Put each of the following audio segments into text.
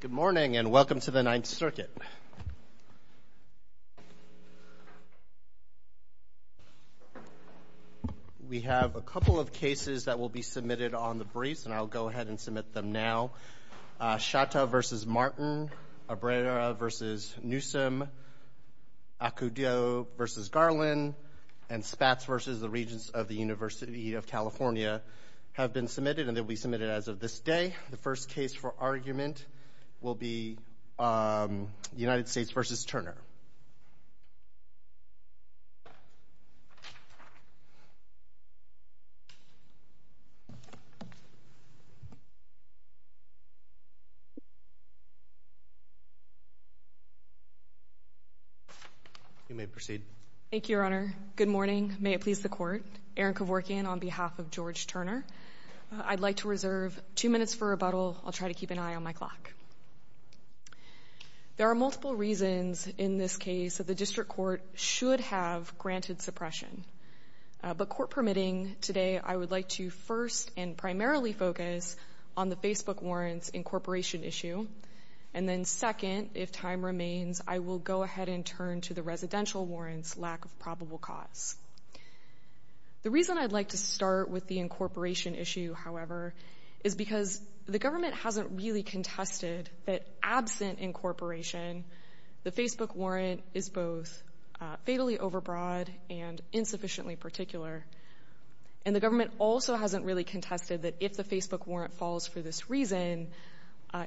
Good morning, and welcome to the Ninth Circuit. We have a couple of cases that will be submitted on the briefs, and I'll go ahead and submit them now. Chateau v. Martin, Abrera v. Newsom, Acudio v. Garland, and Spatz v. the Regents of the University of California have been submitted, and they'll be submitted as of this day. The first case for argument will be United States v. Turner. You may proceed. Thank you, Your Honor. Good morning. May it please the Court. Erin Kevorkian on behalf of George Turner. I'd like to reserve two minutes for rebuttal. I'll try to keep an eye on my clock. There are multiple reasons in this case that the district court should have granted suppression, but court permitting, today I would like to first and primarily focus on the Facebook warrants incorporation issue, and then second, if time remains, I will go ahead and turn to the residential warrants lack of probable cause. The reason I'd like to start with the incorporation issue, however, is because the government hasn't really contested that absent incorporation, the Facebook warrant is both fatally overbroad and insufficiently particular, and the government also hasn't really contested that if the Facebook warrant falls for this reason,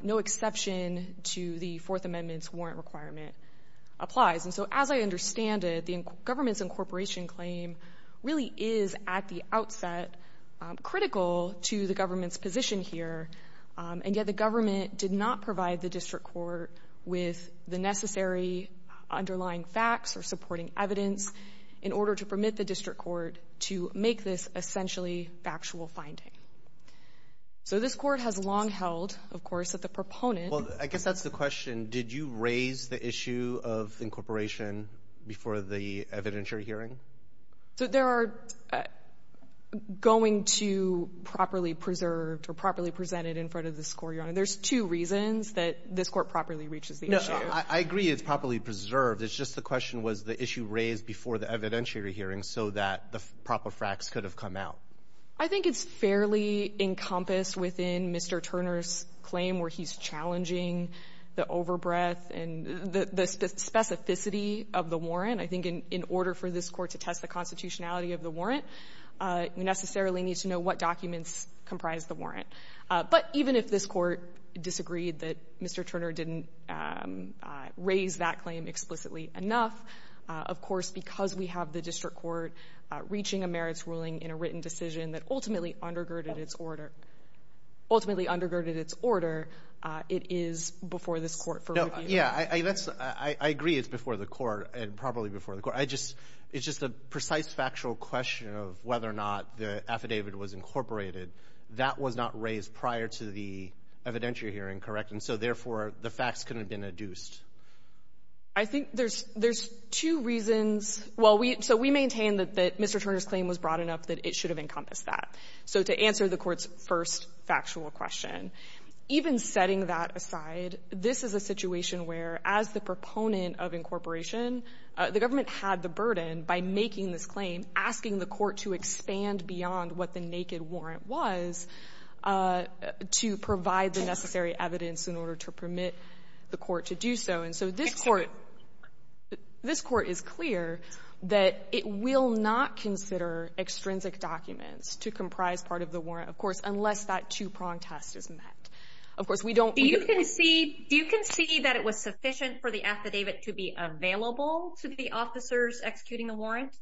no exception to the Fourth Amendment's warrant requirement applies. And so as I understand it, the government's incorporation claim really is at the outset critical to the government's position here, and yet the government did not provide the district court with the necessary underlying facts or supporting evidence in order to permit the district court to make this essentially factual finding. So this Court has long held, of course, that the proponent of the incorporation before the evidentiary hearing? So there are going to properly preserved or properly presented in front of the score, Your Honor. There's two reasons that this Court properly reaches the issue. No, I agree it's properly preserved. It's just the question was the issue raised before the evidentiary hearing so that the proper facts could have come out. I think it's fairly encompassed within Mr. Turner's claim where he's challenging the overbreath and the specificity of the warrant. I think in order for this Court to test the constitutionality of the warrant, you necessarily need to know what documents comprise the warrant. But even if this Court disagreed that Mr. Turner didn't raise that claim explicitly enough, of course, because we have the district court reaching a merits ruling in a written decision that ultimately undergirded its order, ultimately undergirded its order, it is before this Court for review. Yeah, I agree it's before the Court and probably before the Court. It's just a precise factual question of whether or not the affidavit was incorporated. That was not raised prior to the evidentiary hearing, correct? And so, therefore, the facts couldn't have been adduced. I think there's two reasons. Well, we so we maintain that Mr. Turner's claim was broad enough that it should have encompassed that. So to answer the Court's first factual question, even setting that aside, this is a situation where, as the proponent of incorporation, the government had the burden, by making this claim, asking the Court to expand beyond what the naked warrant was to provide the necessary evidence in order to permit the Court to do so. And so this Court, this Court is clear that it will not consider extrinsic documents to comprise part of the warrant, of course, unless that two-prong test is met. Of course, we don't. Do you concede that it was sufficient for the affidavit to be available to the officers executing the warrant?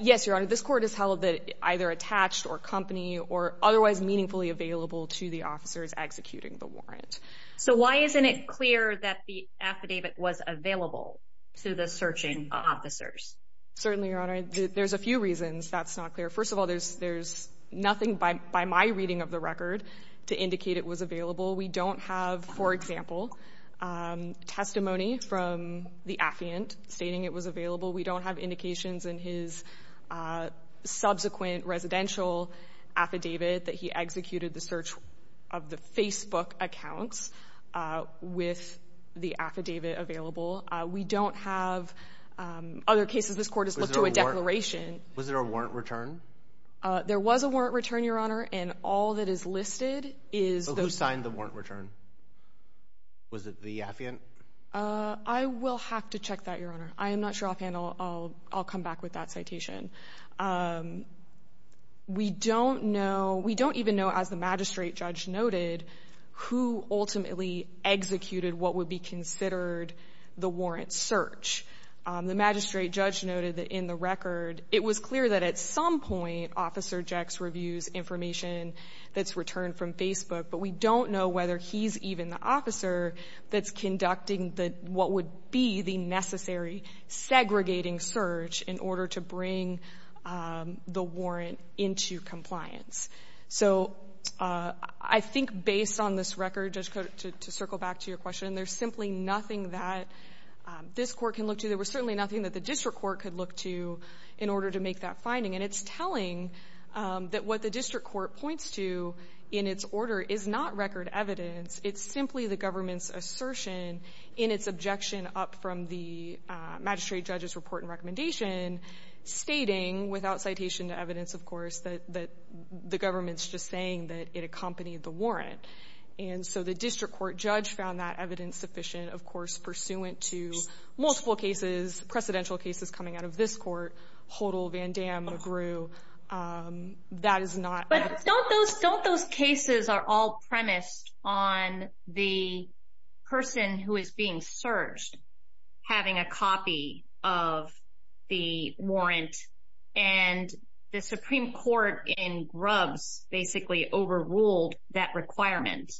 Yes, Your Honor. This Court has held that either attached or company or otherwise meaningfully available to the officers executing the warrant. So why isn't it clear that the affidavit was available to the searching officers? Certainly, Your Honor. There's a few reasons that's not clear. First of all, there's nothing by my reading of the record to indicate it was available. We don't have, for example, testimony from the affiant stating it was available. We don't have indications in his subsequent residential affidavit that he executed the search of the Facebook accounts with the affidavit available. We don't have other cases this Court has looked to a declaration. Was there a warrant return? There was a warrant return, Your Honor, and all that is listed is those. Who signed the warrant return? Was it the affiant? I will have to check that, Your Honor. I am not sure offhand. I'll come back with that citation. We don't know. We don't even know, as the magistrate judge noted, who ultimately executed what would be considered the warrant search. The magistrate judge noted that in the record it was clear that at some point Officer Jecks reviews information that's returned from Facebook, but we don't know whether he's even the officer that's conducting what would be the necessary segregating search in order to bring the warrant into compliance. So I think based on this record, Judge Cote, to circle back to your question, there's simply nothing that this Court can look to. There was certainly nothing that the district court could look to in order to make that finding, and it's telling that what the district court points to in its order is not record evidence. It's simply the government's assertion in its objection up from the magistrate judge's report and recommendation stating, without citation to evidence, of course, that the government's just saying that it accompanied the warrant. And so the district court judge found that evidence sufficient, of course, pursuant to multiple cases, precedential cases coming out of this court, Hodel, Van Damme, McGrew. That is not evidence. Don't those cases are all premised on the person who is being searched having a copy of the warrant and the Supreme Court in Grubbs basically overruled that requirement?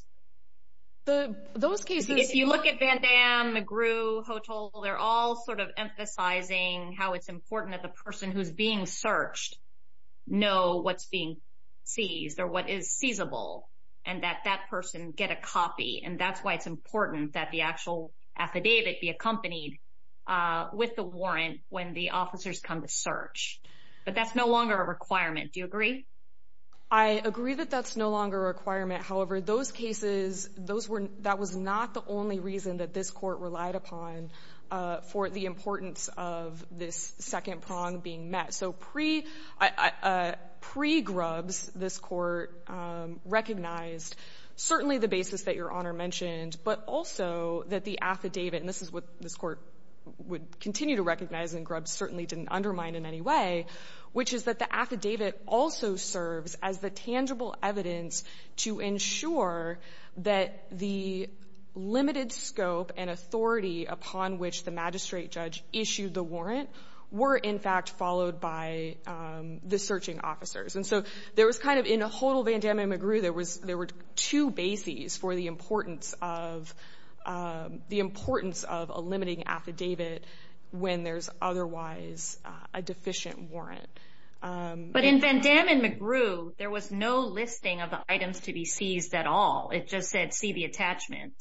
Those cases – If you look at Van Damme, McGrew, Hodel, they're all sort of emphasizing how it's premised or what is feasible and that that person get a copy. And that's why it's important that the actual affidavit be accompanied with the warrant when the officers come to search. But that's no longer a requirement. Do you agree? I agree that that's no longer a requirement. However, those cases, that was not the only reason that this court relied upon for the importance of this second prong being met. So pre-Grubbs, this Court recognized certainly the basis that Your Honor mentioned, but also that the affidavit, and this is what this Court would continue to recognize and Grubbs certainly didn't undermine in any way, which is that the affidavit also serves as the tangible evidence to ensure that the limited scope and authority upon which the magistrate judge issued the warrant were in fact followed by the searching officers. And so there was kind of, in Hodel, Van Damme, and McGrew, there were two bases for the importance of a limiting affidavit when there's otherwise a deficient warrant. But in Van Damme and McGrew, there was no listing of the items to be seized at all. It just said, see the attachment.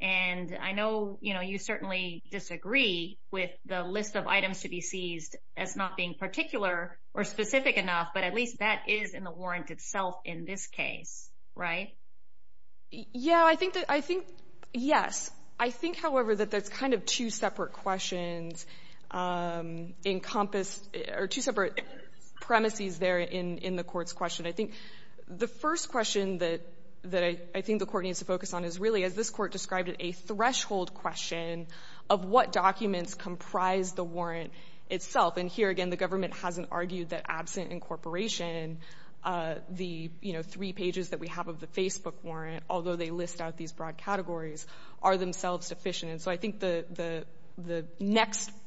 And I know, you know, you certainly disagree with the list of items to be seized as not being particular or specific enough, but at least that is in the warrant itself in this case, right? Yeah, I think that, I think, yes. I think, however, that that's kind of two separate questions encompass, or two separate premises there in the Court's question. I think the first question that I think the Court needs to focus on is really, as this Court described it, a threshold question of what documents comprise the warrant itself. And here, again, the government hasn't argued that absent incorporation, the, you know, three pages that we have of the Facebook warrant, although they list out these broad categories, are themselves deficient. And so I think the next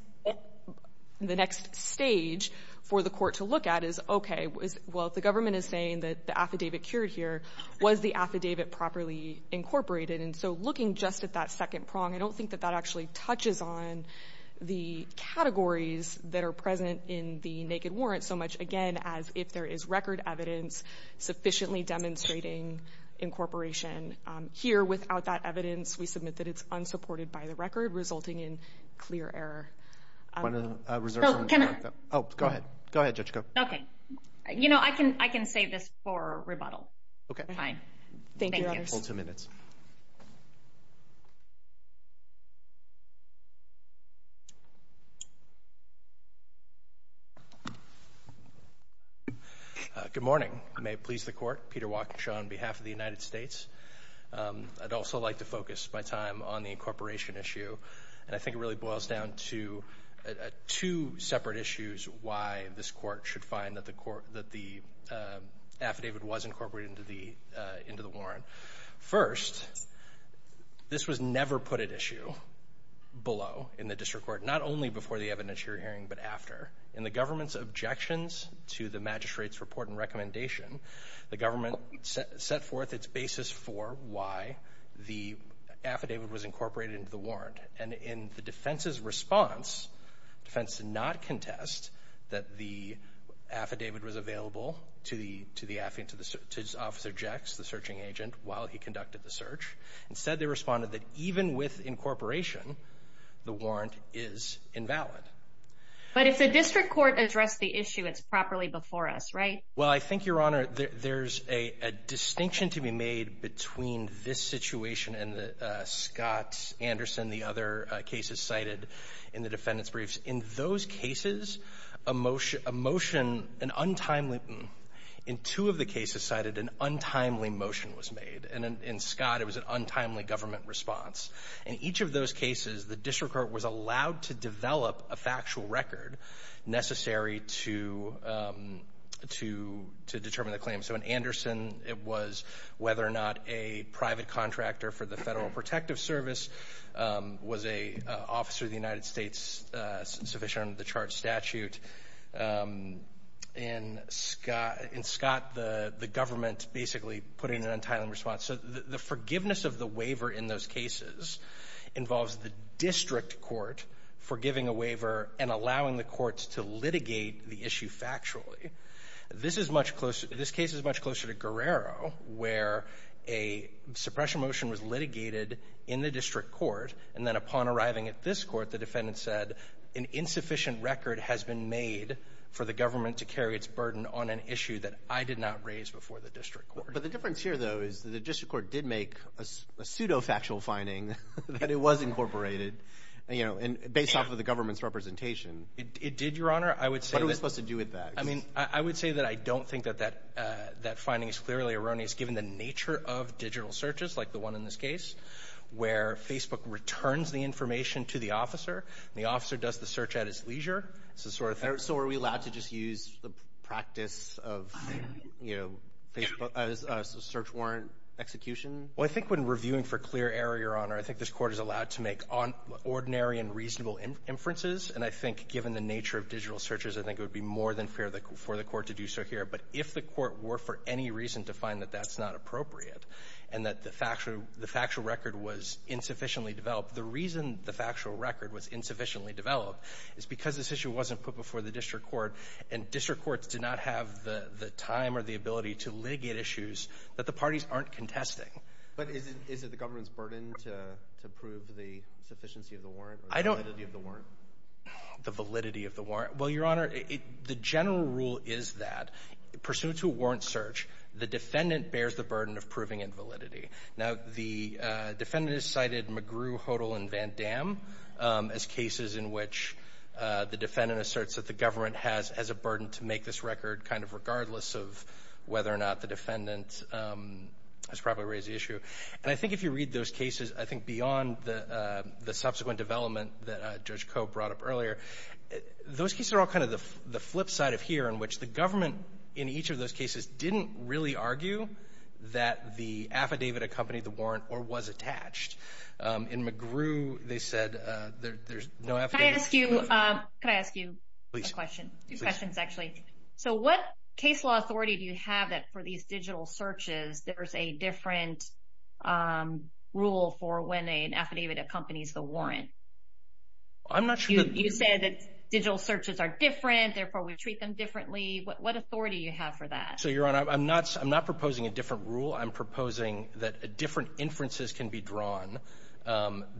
stage for the Court to look at is, okay, well, if the government is saying that the affidavit cured here, was the affidavit properly incorporated? And so looking just at that second prong, I don't think that that actually touches on the categories that are present in the naked warrant so much, again, as if there is record evidence sufficiently demonstrating incorporation. Here, without that evidence, we submit that it's unsupported by the record, resulting in clear error. I want to reserve some time. Oh, go ahead. Go ahead, Judge Ko. Okay. You know, I can save this for rebuttal. Okay. Fine. Thank you. Thank you, Your Honor. Hold two minutes. Good morning. I may please the Court. Peter Walkinshaw on behalf of the United States. I'd also like to focus my time on the incorporation issue. And I think it really boils down to two separate issues why this Court should find that the affidavit was incorporated into the warrant. First, this was never put at issue below in the district court, not only before the evidentiary hearing, but after. In the government's objections to the magistrate's report and recommendation, the government set forth its basis for why the affidavit was incorporated into the warrant. And in the defense's response, defense did not contest that the affidavit was available to Officer Jecks, the searching agent, while he conducted the search. Instead, they responded that even with incorporation, the warrant is invalid. But if the district court addressed the issue, it's properly before us, right? Well, I think, Your Honor, there's a distinction to be made between this situation and the Scott-Anderson, the other cases cited in the defendant's briefs. In those cases, a motion, an untimely — in two of the cases cited, an untimely motion was made. And in Scott, it was an untimely government response. In each of those cases, the district court was allowed to develop a factual record necessary to determine the claim. So in Anderson, it was whether or not a private contractor for the Federal Protective Service was an officer of the United States sufficient under the charged statute. In Scott, the government basically put in an untimely response. So the forgiveness of the waiver in those cases involves the district court forgiving a waiver and allowing the courts to litigate the issue factually. This is much closer—this case is much closer to Guerrero, where a suppression motion was litigated in the district court, and then upon arriving at this court, the defendant said, an insufficient record has been made for the government to carry its burden on an issue that I did not raise before the district court. But the difference here, though, is the district court did make a pseudo-factual finding that it was incorporated, you know, based off of the government's representation. It did, Your Honor. I would say that— What are we supposed to do with that? I mean, I would say that I don't think that that finding is clearly erroneous given the nature of digital searches, like the one in this case, where Facebook returns the information to the officer, and the officer does the search at his leisure. It's the sort of thing— So are we allowed to just use the practice of, you know, Facebook as a search warrant execution? Well, I think when reviewing for clear error, Your Honor, I think this Court is allowed to make ordinary and reasonable inferences. And I think given the nature of digital searches, I think it would be more than fair for the Court to do so here. But if the Court were for any reason to find that that's not appropriate and that the factual record was insufficiently developed, the reason the factual record was insufficiently developed is because this issue wasn't put before the district court, and district courts do not have the time or the ability to litigate issues that the parties aren't contesting. But is it the government's burden to prove the sufficiency of the warrant or the validity of the warrant? The validity of the warrant. Well, Your Honor, the general rule is that pursuant to a warrant search, the defendant bears the burden of proving invalidity. Now, the defendant has cited McGrew, Hodel, and Van Damme as cases in which the defendant asserts that the government has a burden to make this record, kind of regardless of whether or not the defendant has properly raised the issue. And I think if you read those cases, I think beyond the subsequent development that Judge Koh brought up earlier, those cases are all kind of the flip side of here in which the government in each of those cases didn't really argue that the affidavit accompanied the warrant or was attached. In McGrew, they said there's no affidavit. Can I ask you a question? Please. Two questions, actually. So what case law authority do you have that for these digital searches there's a different rule for when an affidavit accompanies the warrant? You said that digital searches are different, therefore we treat them differently. What authority do you have for that? So, Your Honor, I'm not proposing a different rule. I'm proposing that different inferences can be drawn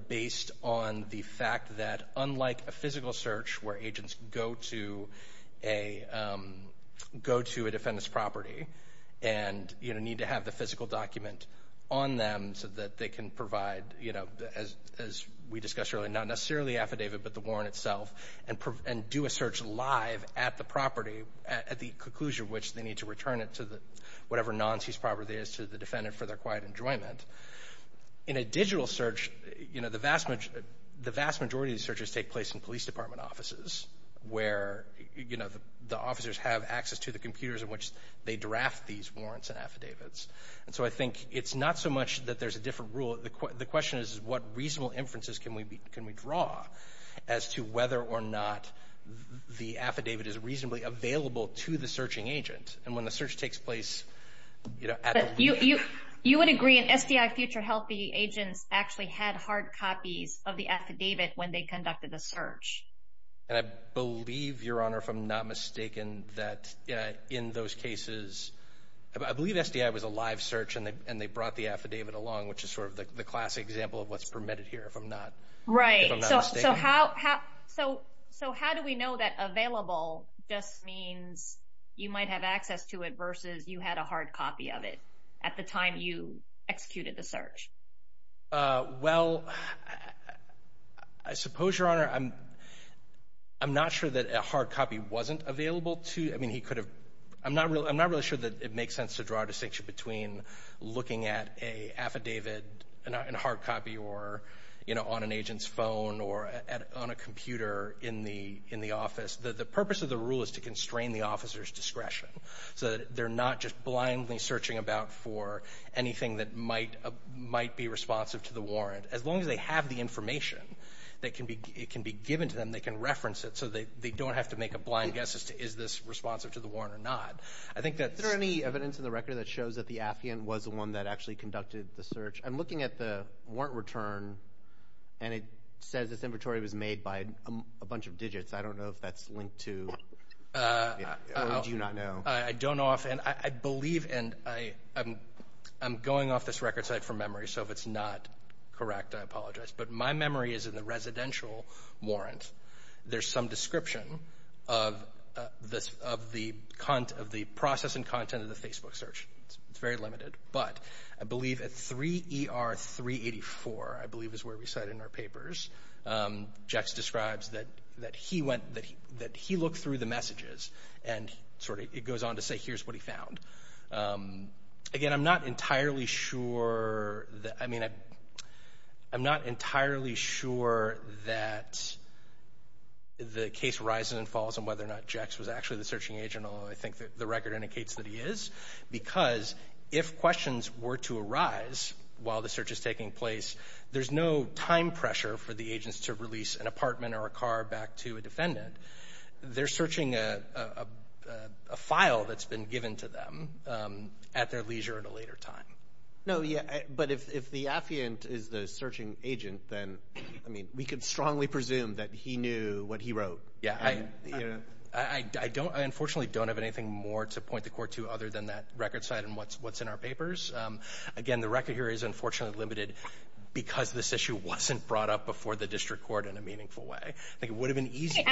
based on the fact that, and need to have the physical document on them so that they can provide, as we discussed earlier, not necessarily affidavit but the warrant itself and do a search live at the property at the conclusion of which they need to return it to whatever non-seized property it is to the defendant for their quiet enjoyment. In a digital search, the vast majority of searches take place in police department offices where the officers have access to the computers in which they draft these warrants and affidavits. And so I think it's not so much that there's a different rule. The question is what reasonable inferences can we draw as to whether or not the affidavit is reasonably available to the searching agent. And when the search takes place at the location. You would agree an SDI Future Healthy agent actually had hard copies of the affidavit when they conducted the search. And I believe, Your Honor, if I'm not mistaken, that in those cases, I believe SDI was a live search and they brought the affidavit along, which is sort of the classic example of what's permitted here, if I'm not mistaken. Right. So how do we know that available just means you might have access to it versus you had a hard copy of it at the time you executed the search? Well, I suppose, Your Honor, I'm not sure that a hard copy wasn't available to you. I mean, he could have. I'm not really sure that it makes sense to draw a distinction between looking at an affidavit, a hard copy on an agent's phone or on a computer in the office. The purpose of the rule is to constrain the officer's discretion so that they're not just blindly searching about for anything that might be responsive to the warrant. As long as they have the information, it can be given to them, they can reference it, so they don't have to make a blind guess as to is this responsive to the warrant or not. Is there any evidence in the record that shows that the affidavit was the one that actually conducted the search? I'm looking at the warrant return, and it says this inventory was made by a bunch of digits. I don't know if that's linked to, or do you not know? I don't know offhand. I believe, and I'm going off this record site for memory, so if it's not correct, I apologize. But my memory is in the residential warrant. There's some description of the process and content of the Facebook search. It's very limited. But I believe at 3ER384, I believe is where we cite in our papers, Jax describes that he looked through the messages, and it goes on to say here's what he found. Again, I'm not entirely sure that the case rises and falls on whether or not Jax was actually the searching agent, although I think the record indicates that he is, because if questions were to arise while the search is taking place, there's no time pressure for the agents to release an apartment or a car back to a defendant. They're searching a file that's been given to them at their leisure at a later time. No, but if the affiant is the searching agent, then, I mean, we could strongly presume that he knew what he wrote. Yeah. I unfortunately don't have anything more to point the court to other than that record site and what's in our papers. Again, the record here is unfortunately limited because this issue wasn't brought up before the district court in a meaningful way. I think it would have been easy.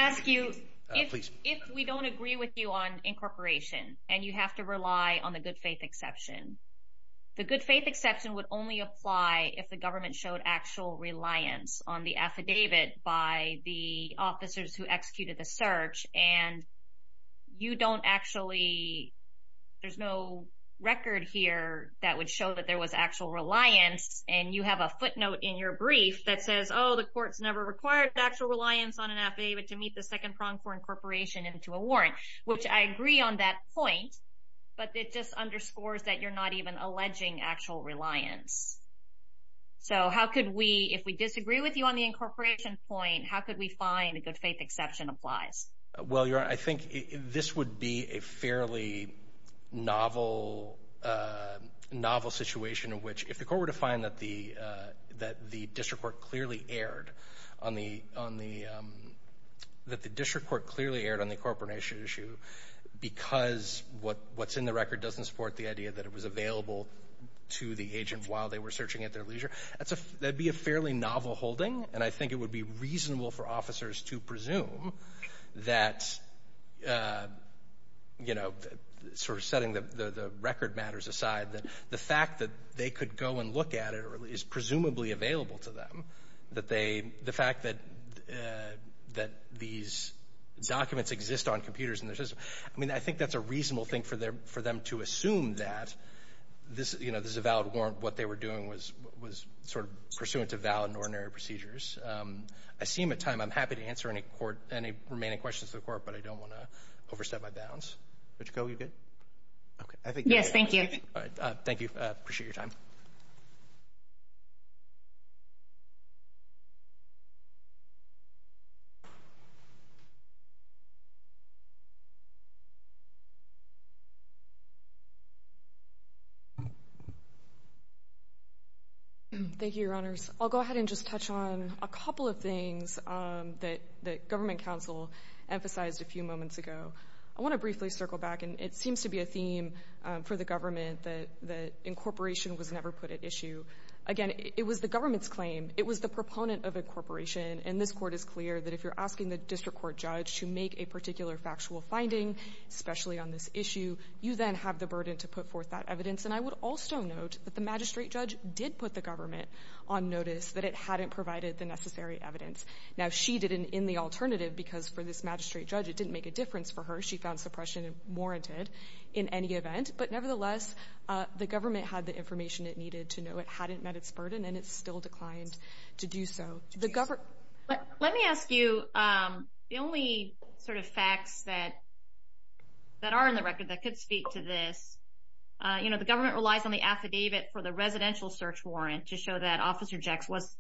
If we don't agree with you on incorporation and you have to rely on the good faith exception, the good faith exception would only apply if the government showed actual reliance on the affidavit by the officers who executed the search, and you don't actually, there's no record here that would show that there was actual reliance, and you have a footnote in your brief that says, oh, the court's never required actual reliance on an affidavit to meet the second prong for incorporation into a warrant, which I agree on that point, but it just underscores that you're not even alleging actual reliance. So how could we, if we disagree with you on the incorporation point, how could we find a good faith exception applies? Well, Your Honor, I think this would be a fairly novel situation in which, if the court were to find that the district court clearly erred on the incorporation issue because what's in the record doesn't support the idea that it was available to the agent while they were searching at their leisure, that'd be a fairly novel holding, and I think it would be reasonable for officers to presume that, you know, sort of setting the record matters aside, that the fact that they could go and look at it is presumably available to them, that they, the fact that these documents exist on computers and there's just, I mean, I think that's a reasonable thing for them to assume that this, you know, this is a valid warrant, what they were doing was sort of pursuant to valid and ordinary procedures. I see him at time. I'm happy to answer any remaining questions to the court, but I don't want to overstep my bounds. Okay. Yes, thank you. All right. Thank you. Appreciate your time. Thank you, Your Honors. I'll go ahead and just touch on a couple of things that government counsel emphasized a few moments ago. I want to briefly circle back, and it seems to be a theme for the government that incorporation was never put at issue. Again, it was the government's claim. It was the proponent of incorporation, and this court is clear that if you're asking the district court judge to make a particular factual finding, especially on this issue, you then have the burden to put forth that evidence, and I would also note that the magistrate judge did put the government on notice that it hadn't provided the necessary evidence. Now, she didn't in the alternative because for this magistrate judge, it didn't make a difference for her. She found suppression warranted in any event, but nevertheless, the government had the information it needed to know it hadn't met its burden, and it still declined to do so. Let me ask you, the only sort of facts that are in the record that could speak to this, you know, the government relies on the affidavit for the residential search warrant to show that Officer Jecks was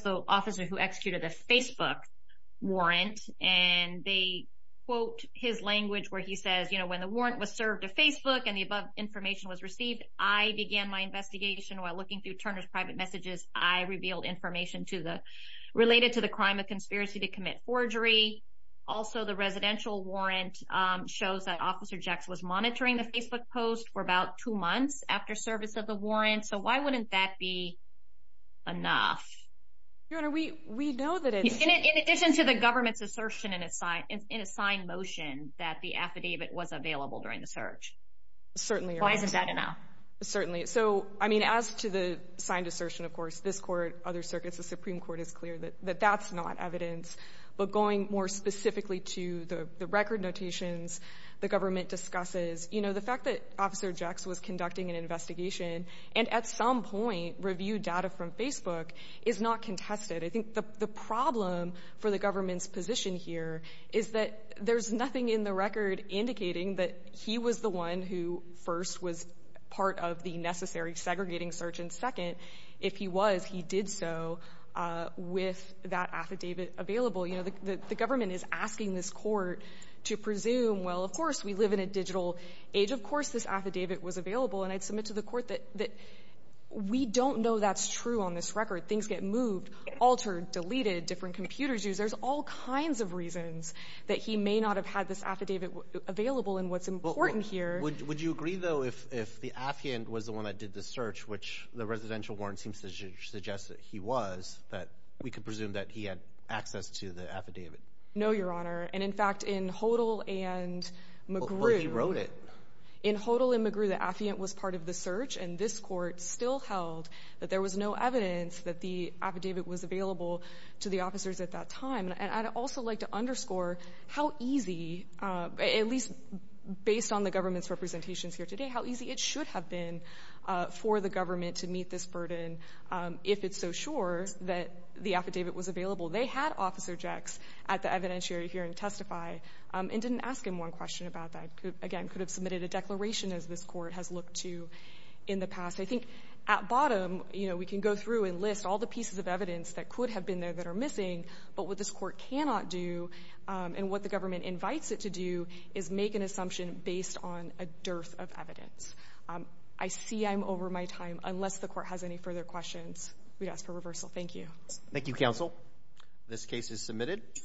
the officer who executed the Facebook warrant, and they quote his language where he says, you know, when the warrant was served to Facebook and the above information was received, I began my investigation while looking through Turner's private messages. I revealed information related to the crime of conspiracy to commit forgery. Also, the residential warrant shows that Officer Jecks was monitoring the Facebook post for about two months after service of the warrant, so why wouldn't that be enough? Your Honor, we know that it's... In addition to the government's assertion in a signed motion that the affidavit was available during the search. Certainly. Why isn't that enough? Certainly. So, I mean, as to the signed assertion, of course, this court, other circuits, the Supreme Court is clear that that's not evidence, but going more specifically to the record notations the government discusses, you know, the fact that Officer Jecks was conducting an investigation and at some point reviewed data from Facebook is not contested. I think the problem for the government's position here is that there's nothing in the record indicating that he was the one who first was part of the necessary segregating search and second, if he was, he did so with that affidavit available. You know, the government is asking this court to presume, well, of course, we live in a digital age, of course this affidavit was available, and I'd submit to the court that we don't know that's true on this record. Things get moved, altered, deleted, different computers used. There's all kinds of reasons that he may not have had this affidavit available and what's important here. Would you agree, though, if the affiant was the one that did the search, which the residential warrant seems to suggest that he was, that we could presume that he had access to the affidavit? No, Your Honor. And, in fact, in Hodel and McGrew. Well, he wrote it. In Hodel and McGrew, the affiant was part of the search, and this court still held that there was no evidence that the affidavit was available to the officers at that time. And I'd also like to underscore how easy, at least based on the government's representations here today, how easy it should have been for the government to meet this burden if it's so sure that the affidavit was available. They had Officer Jecks at the evidentiary hearing testify and didn't ask him one question about that. Again, could have submitted a declaration, as this court has looked to in the past. I think at bottom, you know, we can go through and list all the pieces of evidence that could have been there that are missing, but what this court cannot do and what the government invites it to do is make an assumption based on a dearth of evidence. I see I'm over my time. Unless the court has any further questions, we'd ask for reversal. Thank you. Thank you, counsel. This case is submitted.